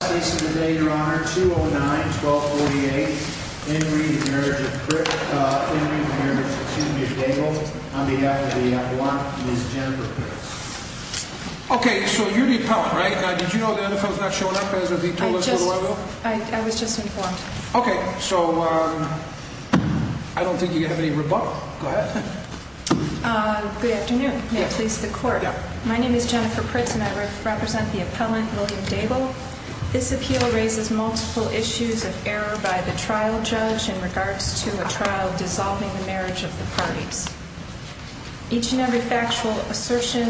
On behalf of the Appellant, Ms. Jennifer Pritz. Okay, so you're the Appellant, right? Now, did you know the other fellow's not showing up? I was just informed. Okay, so I don't think you have any rebuttal. Go ahead. Good afternoon. May it please the Court. My name is Jennifer Pritz and I represent the Appellant, William Daebel. This appeal raises multiple issues of error by the trial judge in regards to a trial dissolving the marriage of the parties. Each and every factual assertion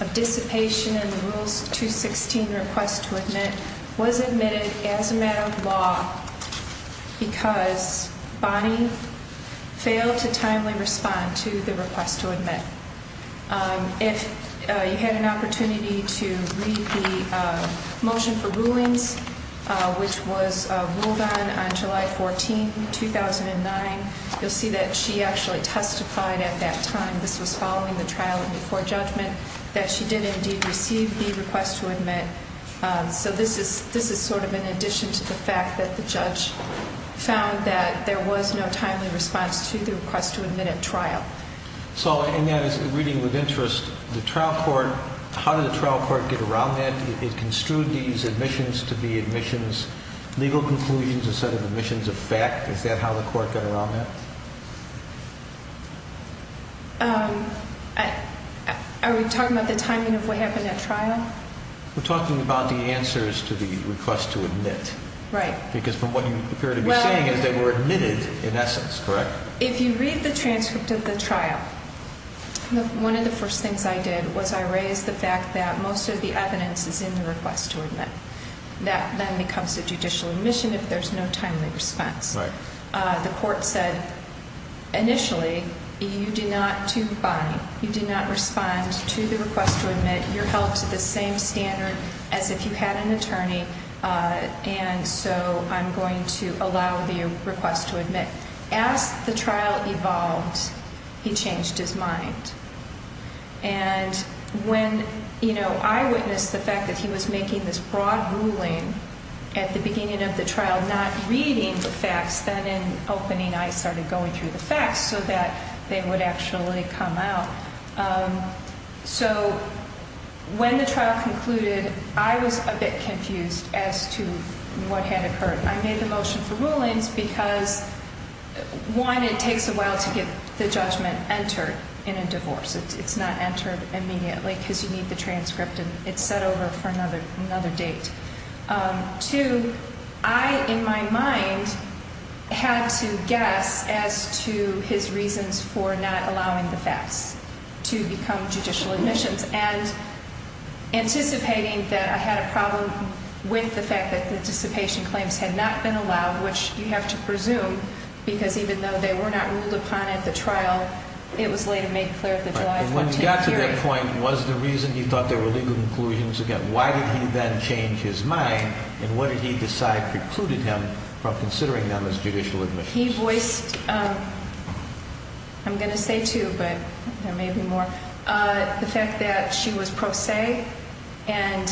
of dissipation in the Rules 216 Request to Admit was admitted as a matter of law because Bonnie failed to timely respond to the Request to Admit. If you had an opportunity to read the Motion for Rulings, which was ruled on on July 14, 2009, you'll see that she actually testified at that time, this was following the trial and before judgment, that she did indeed receive the Request to Admit. So this is sort of in addition to the fact that the judge found that there was no timely response to the Request to Admit at trial. So in that reading with interest, the trial court, how did the trial court get around that? It construed these admissions to be admissions, legal conclusions instead of admissions of fact. Is that how the court got around that? Are we talking about the timing of what happened at trial? We're talking about the answers to the Request to Admit. Right. Because from what you appear to be saying is they were admitted in essence, correct? If you read the transcript of the trial, one of the first things I did was I raised the fact that most of the evidence is in the Request to Admit. That then becomes a judicial admission if there's no timely response. Right. The court said initially you do not, to Bonnie, you do not respond to the Request to Admit. You're held to the same standard as if you had an attorney, and so I'm going to allow the Request to Admit. As the trial evolved, he changed his mind. And when, you know, I witnessed the fact that he was making this broad ruling at the beginning of the trial not reading the facts, then in opening I started going through the facts so that they would actually come out. So when the trial concluded, I was a bit confused as to what had occurred. I made the motion for rulings because, one, it takes a while to get the judgment entered in a divorce. It's not entered immediately because you need the transcript, and it's set over for another date. Two, I, in my mind, had to guess as to his reasons for not allowing the facts to become judicial admissions and anticipating that I had a problem with the fact that the dissipation claims had not been allowed, which you have to presume because even though they were not ruled upon at the trial, it was later made clear at the July 14th hearing. When you got to that point, was the reason you thought there were legal conclusions? Again, why did he then change his mind, and what did he decide precluded him from considering them as judicial admissions? He voiced, I'm going to say two, but there may be more, the fact that she was pro se and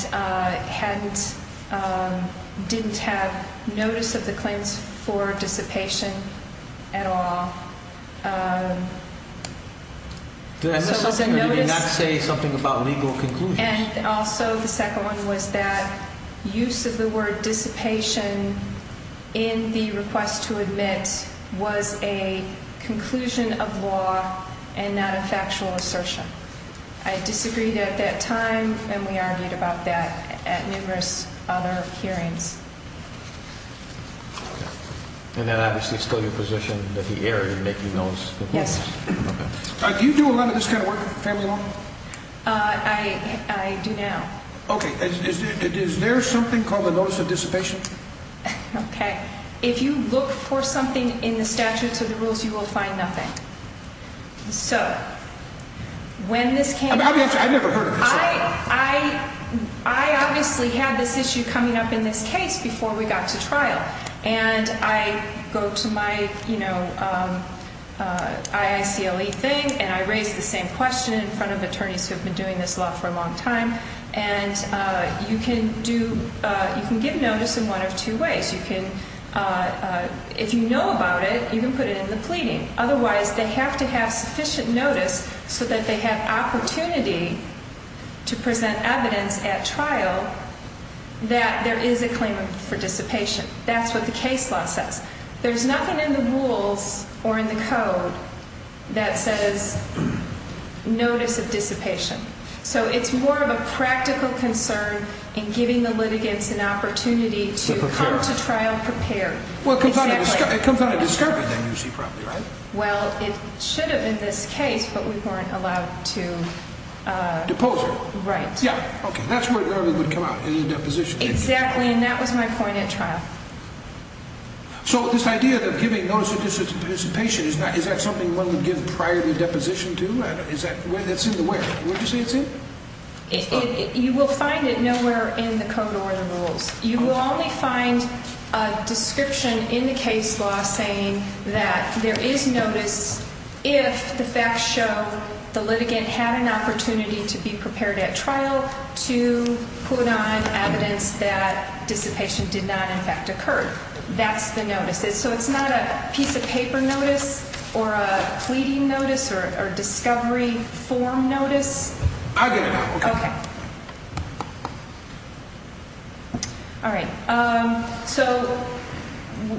didn't have notice of the claims for dissipation at all. Did he not say something about legal conclusions? And also the second one was that use of the word dissipation in the request to admit was a conclusion of law and not a factual assertion. I disagreed at that time, and we argued about that at numerous other hearings. And then obviously it's still your position that he erred in making those conclusions? Yes. Do you do a lot of this kind of work, family law? I do now. Okay. Is there something called a notice of dissipation? Okay. If you look for something in the statutes of the rules, you will find nothing. So when this came up... I never heard of this. I obviously had this issue coming up in this case before we got to trial. And I go to my, you know, IACLE thing, and I raise the same question in front of attorneys who have been doing this law for a long time. And you can give notice in one of two ways. If you know about it, you can put it in the pleading. Otherwise, they have to have sufficient notice so that they have opportunity to present evidence at trial that there is a claim for dissipation. That's what the case law says. There's nothing in the rules or in the code that says notice of dissipation. So it's more of a practical concern in giving the litigants an opportunity to come to trial prepared. Well, it comes out of discovery then, you see, probably, right? Well, it should have in this case, but we weren't allowed to... Depose her. Right. Yeah. Okay. That's where it would come out in the deposition. Exactly, and that was my point at trial. So this idea of giving notice of dissipation, is that something one would give prior to deposition too? It's in the where? Where did you say it's in? You will find it nowhere in the code or the rules. You will only find a description in the case law saying that there is notice if the facts show the litigant had an opportunity to be prepared at trial to put on evidence that dissipation did not, in fact, occur. That's the notice. So it's not a piece of paper notice or a pleading notice or discovery form notice? I get it now. Okay. All right. So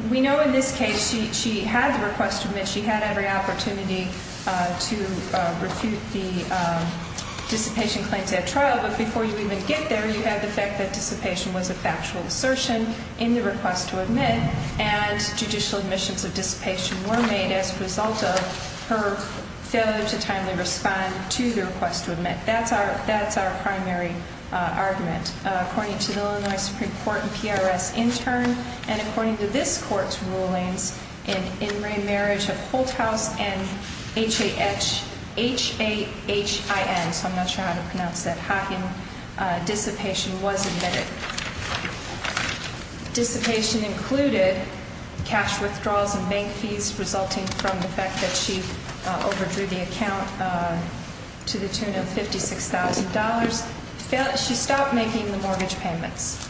we know in this case she had the request to admit. She had every opportunity to refute the dissipation claims at trial. But before you even get there, you have the fact that dissipation was a factual assertion in the request to admit. And judicial admissions of dissipation were made as a result of her failure to timely respond to the request to admit. That's our primary argument. According to the Illinois Supreme Court and PRS in turn, and according to this court's rulings, an in-ring marriage of Holthaus and H-A-H-I-N, so I'm not sure how to pronounce that, Hockin, dissipation was admitted. Dissipation included cash withdrawals and bank fees resulting from the fact that she overdrew the account to the tune of $56,000. She stopped making the mortgage payments.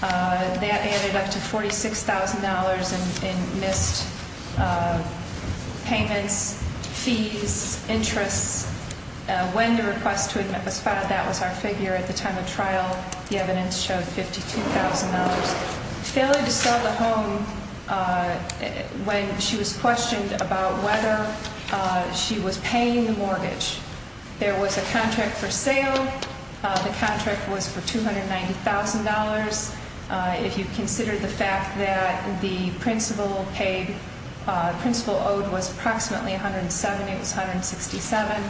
That added up to $46,000 in missed payments, fees, interests. When the request to admit was filed, that was our figure at the time of trial. The evidence showed $52,000. Failure to sell the home when she was questioned about whether she was paying the mortgage. There was a contract for sale. The contract was for $290,000. If you consider the fact that the principal owed was approximately $107,000, it was $167,000.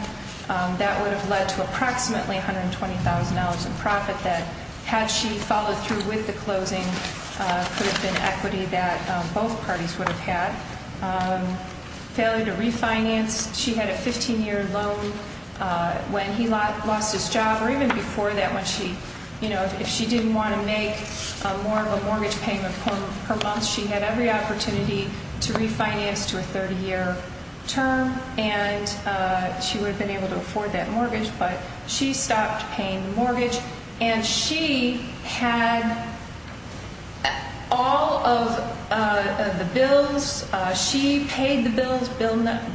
That would have led to approximately $120,000 in profit that, had she followed through with the closing, could have been equity that both parties would have had. Failure to refinance. She had a 15-year loan when he lost his job or even before that when she, you know, if she didn't want to make more of a mortgage payment per month, she had every opportunity to refinance to a 30-year term, and she would have been able to afford that mortgage, but she stopped paying the mortgage. And she had all of the bills. She paid the bills.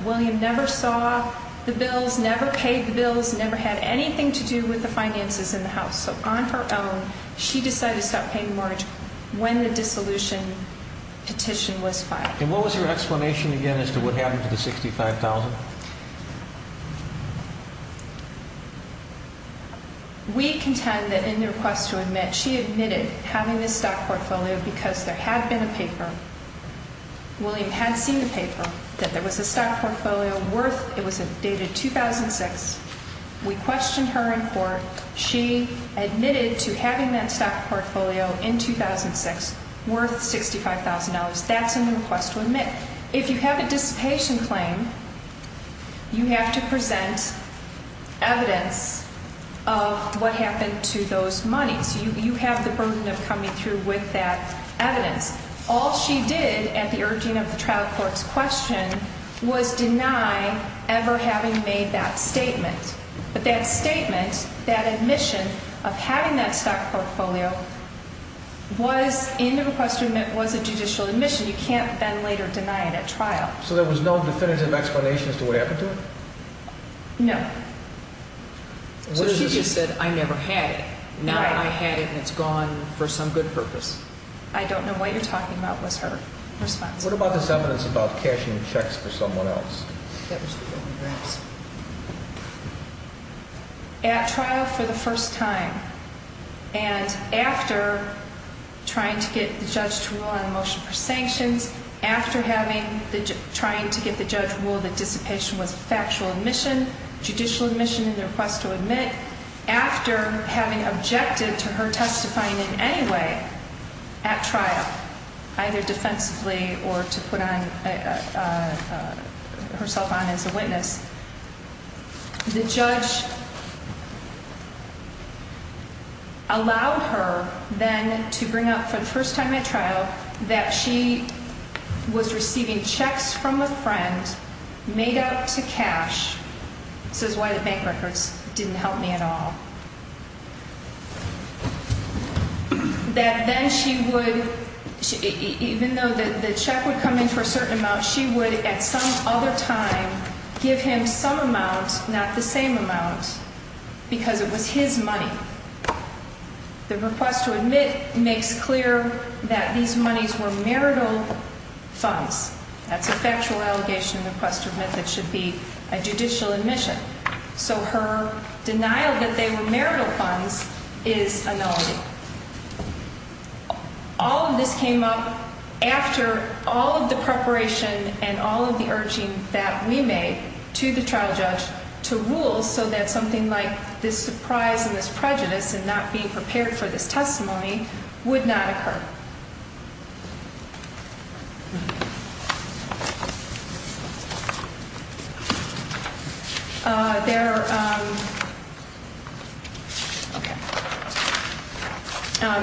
William never saw the bills, never paid the bills, never had anything to do with the finances in the house. So on her own, she decided to stop paying the mortgage when the dissolution petition was filed. And what was your explanation again as to what happened to the $65,000? We contend that in the request to admit, she admitted having this stock portfolio because there had been a paper. William had seen the paper that there was a stock portfolio worth, it was dated 2006. We questioned her in court. She admitted to having that stock portfolio in 2006 worth $65,000. That's in the request to admit. If you have a dissipation claim, you have to present evidence of what happened to those monies. You have the burden of coming through with that evidence. All she did at the urging of the trial court's question was deny ever having made that statement. But that statement, that admission of having that stock portfolio was in the request to admit was a judicial admission. You can't then later deny it at trial. So there was no definitive explanation as to what happened to it? No. So she just said, I never had it. Now I had it and it's gone for some good purpose. I don't know what you're talking about was her response. What about this evidence about cashing checks for someone else? At trial for the first time and after trying to get the judge to rule on a motion for sanctions, after having, trying to get the judge to rule that dissipation was a factual admission, judicial admission in the request to admit, after having objected to her testifying in any way at trial, either defensively or to put on herself on as a witness. The judge allowed her then to bring up for the first time at trial that she was receiving checks from a friend made up to cash. This is why the bank records didn't help me at all. That then she would, even though the check would come in for a certain amount, she would at some other time give him some amount, not the same amount, because it was his money. The request to admit makes clear that these monies were marital funds. That's a factual allegation in the request to admit that should be a judicial admission. So her denial that they were marital funds is a nullity. All of this came up after all of the preparation and all of the urging that we made to the trial judge to rule so that something like this surprise and this prejudice and not being prepared for this testimony would not occur.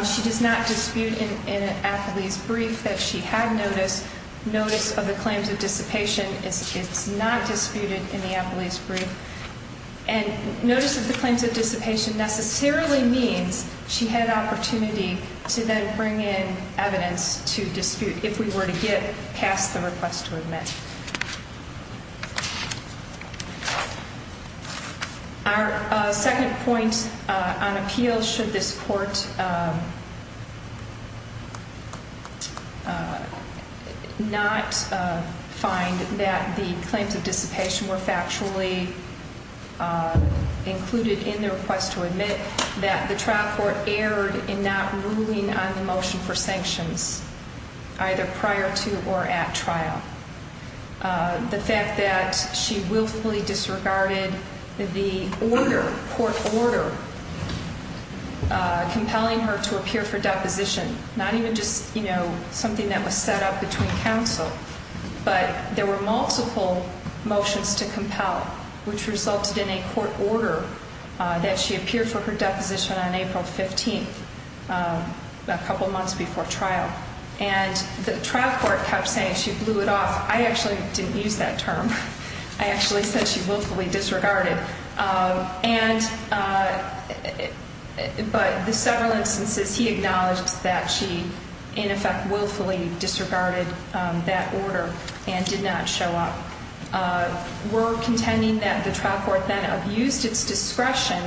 She does not dispute in an affilies brief that she had notice of the claims of dissipation. It's not disputed in the affilies brief. And notice of the claims of dissipation necessarily means she had an opportunity to then bring in evidence to dispute if we were to get past the request to admit. Our second point on appeal, should this court not find that the claims of dissipation were factually included in the request to admit, that the trial court erred in not ruling on the motion for sanctions either prior to or at trial. The fact that she willfully disregarded the order, court order, compelling her to appear for deposition, not even just something that was set up between counsel, but there were multiple motions to compel, which resulted in a court order that she appeared for her deposition on April 15th, a couple months before trial. And the trial court kept saying she blew it off. I actually didn't use that term. I actually said she willfully disregarded. And but the several instances he acknowledged that she, in effect, willfully disregarded that order and did not show up. We're contending that the trial court then abused its discretion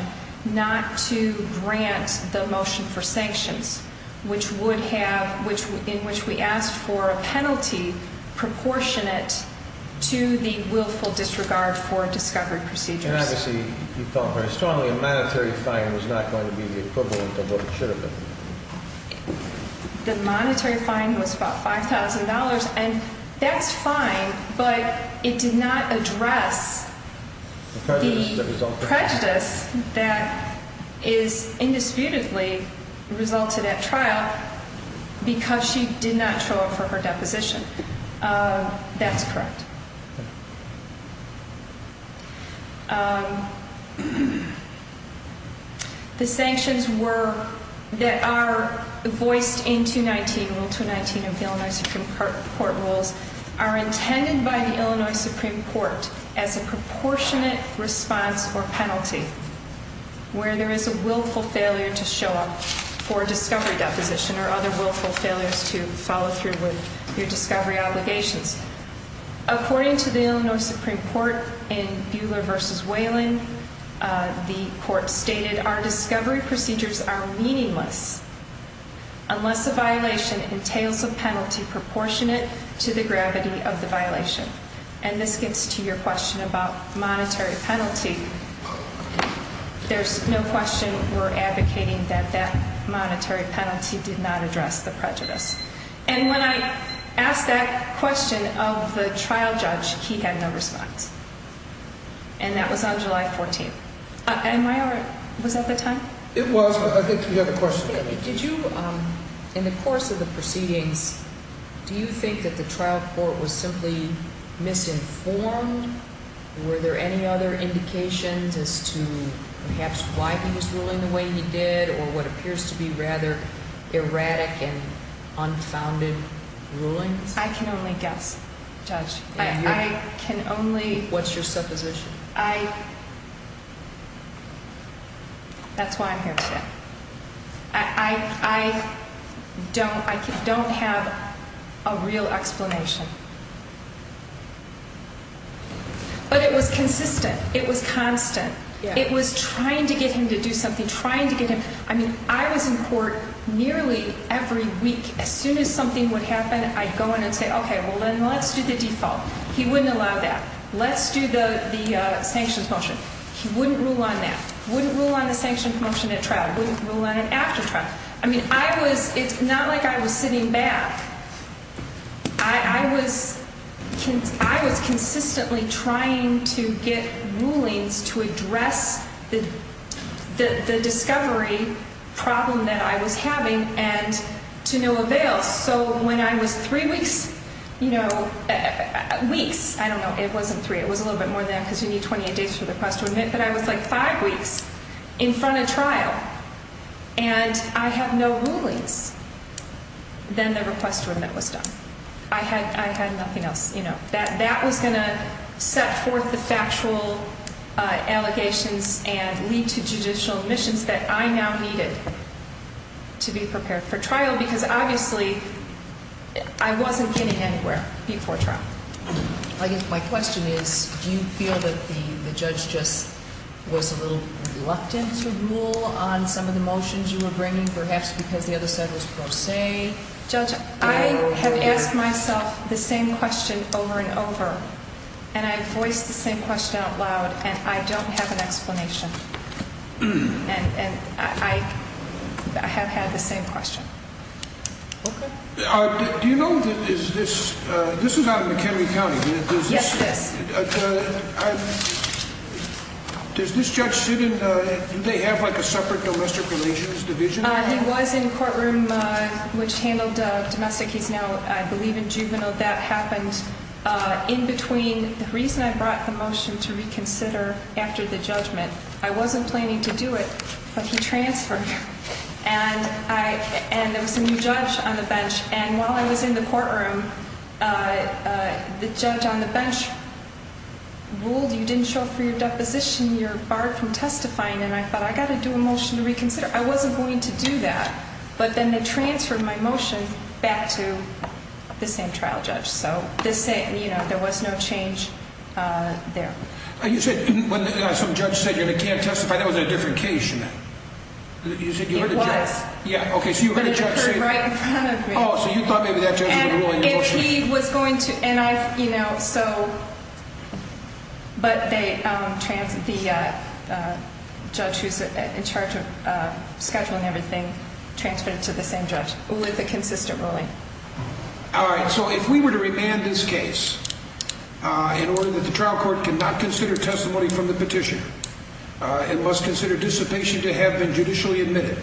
not to grant the motion for sanctions, which would have which in which we asked for a penalty proportionate to the willful disregard for discovery procedures. Obviously, you felt very strongly a monetary fine was not going to be the equivalent of what it should have been. The monetary fine was about $5,000. And that's fine. But it did not address the prejudice that is indisputably resulted at trial because she did not show up for her deposition. That's correct. The sanctions were that are voiced in 219, Rule 219 of the Illinois Supreme Court rules are intended by the Illinois Supreme Court as a proportionate response or penalty where there is a willful failure to show up for discovery deposition or other willful failures to follow through with your discovery obligations. According to the Illinois Supreme Court in Buehler v. Whelan, the court stated, our discovery procedures are meaningless unless a violation entails a penalty proportionate to the gravity of the violation. And this gets to your question about monetary penalty. There's no question we're advocating that that monetary penalty did not address the prejudice. And when I asked that question of the trial judge, he had no response. And that was on July 14th. Am I over? Was that the time? It was, but I think you had a question. Did you, in the course of the proceedings, do you think that the trial court was simply misinformed? Were there any other indications as to perhaps why he was ruling the way he did or what appears to be rather erratic and unfounded rulings? I can only guess, Judge. I can only. What's your supposition? I, that's why I'm here today. I don't have a real explanation. But it was consistent. It was constant. It was trying to get him to do something, trying to get him. I mean, I was in court nearly every week. As soon as something would happen, I'd go in and say, okay, well, then let's do the default. He wouldn't allow that. Let's do the sanctions motion. He wouldn't rule on that. He wouldn't rule on the sanctions motion at trial. He wouldn't rule on it after trial. I mean, I was, it's not like I was sitting back. I was consistently trying to get rulings to address the discovery problem that I was having and to no avail. So when I was three weeks, you know, weeks, I don't know, it wasn't three. It was a little bit more than that because you need 28 days for the request to admit. But I was like five weeks in front of trial, and I had no rulings. Then the request to admit was done. I had nothing else, you know. That was going to set forth the factual allegations and lead to judicial admissions that I now needed to be prepared for trial because obviously I wasn't getting anywhere before trial. My question is, do you feel that the judge just was a little reluctant to rule on some of the motions you were bringing, perhaps because the other side was pro se? Judge, I have asked myself the same question over and over, and I voiced the same question out loud, and I don't have an explanation. And I have had the same question. Okay. Do you know that this is out of McHenry County? Yes, yes. Does this judge sit in, do they have like a separate domestic relations division? He was in courtroom which handled domestic. He's now, I believe, in juvenile. That happened in between the reason I brought the motion to reconsider after the judgment. I wasn't planning to do it, but he transferred. And there was a new judge on the bench. And while I was in the courtroom, the judge on the bench ruled you didn't show up for your deposition. You're barred from testifying. And I thought, I've got to do a motion to reconsider. I wasn't going to do that. But then they transferred my motion back to the same trial judge. So, you know, there was no change there. You said when some judge said you can't testify, that was a different case. It was. Yeah, okay, so you heard a judge say that. But it occurred right in front of me. Oh, so you thought maybe that judge was going to rule your motion. And he was going to, and I, you know, so, but the judge who's in charge of scheduling everything transferred it to the same judge with a consistent ruling. All right, so if we were to remand this case in order that the trial court cannot consider testimony from the petition, it must consider dissipation to have been judicially admitted.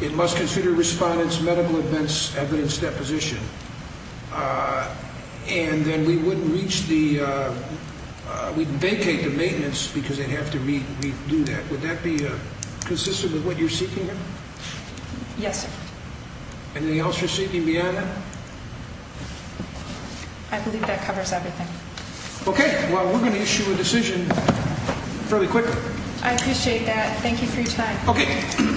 It must consider respondents, medical events, evidence, deposition. And then we wouldn't reach the, we'd vacate the maintenance because they'd have to redo that. Would that be consistent with what you're seeking here? Yes, sir. Anything else you're seeking beyond that? I believe that covers everything. Okay, well, we're going to issue a decision fairly quickly. I appreciate that. Thank you for your time. Okay.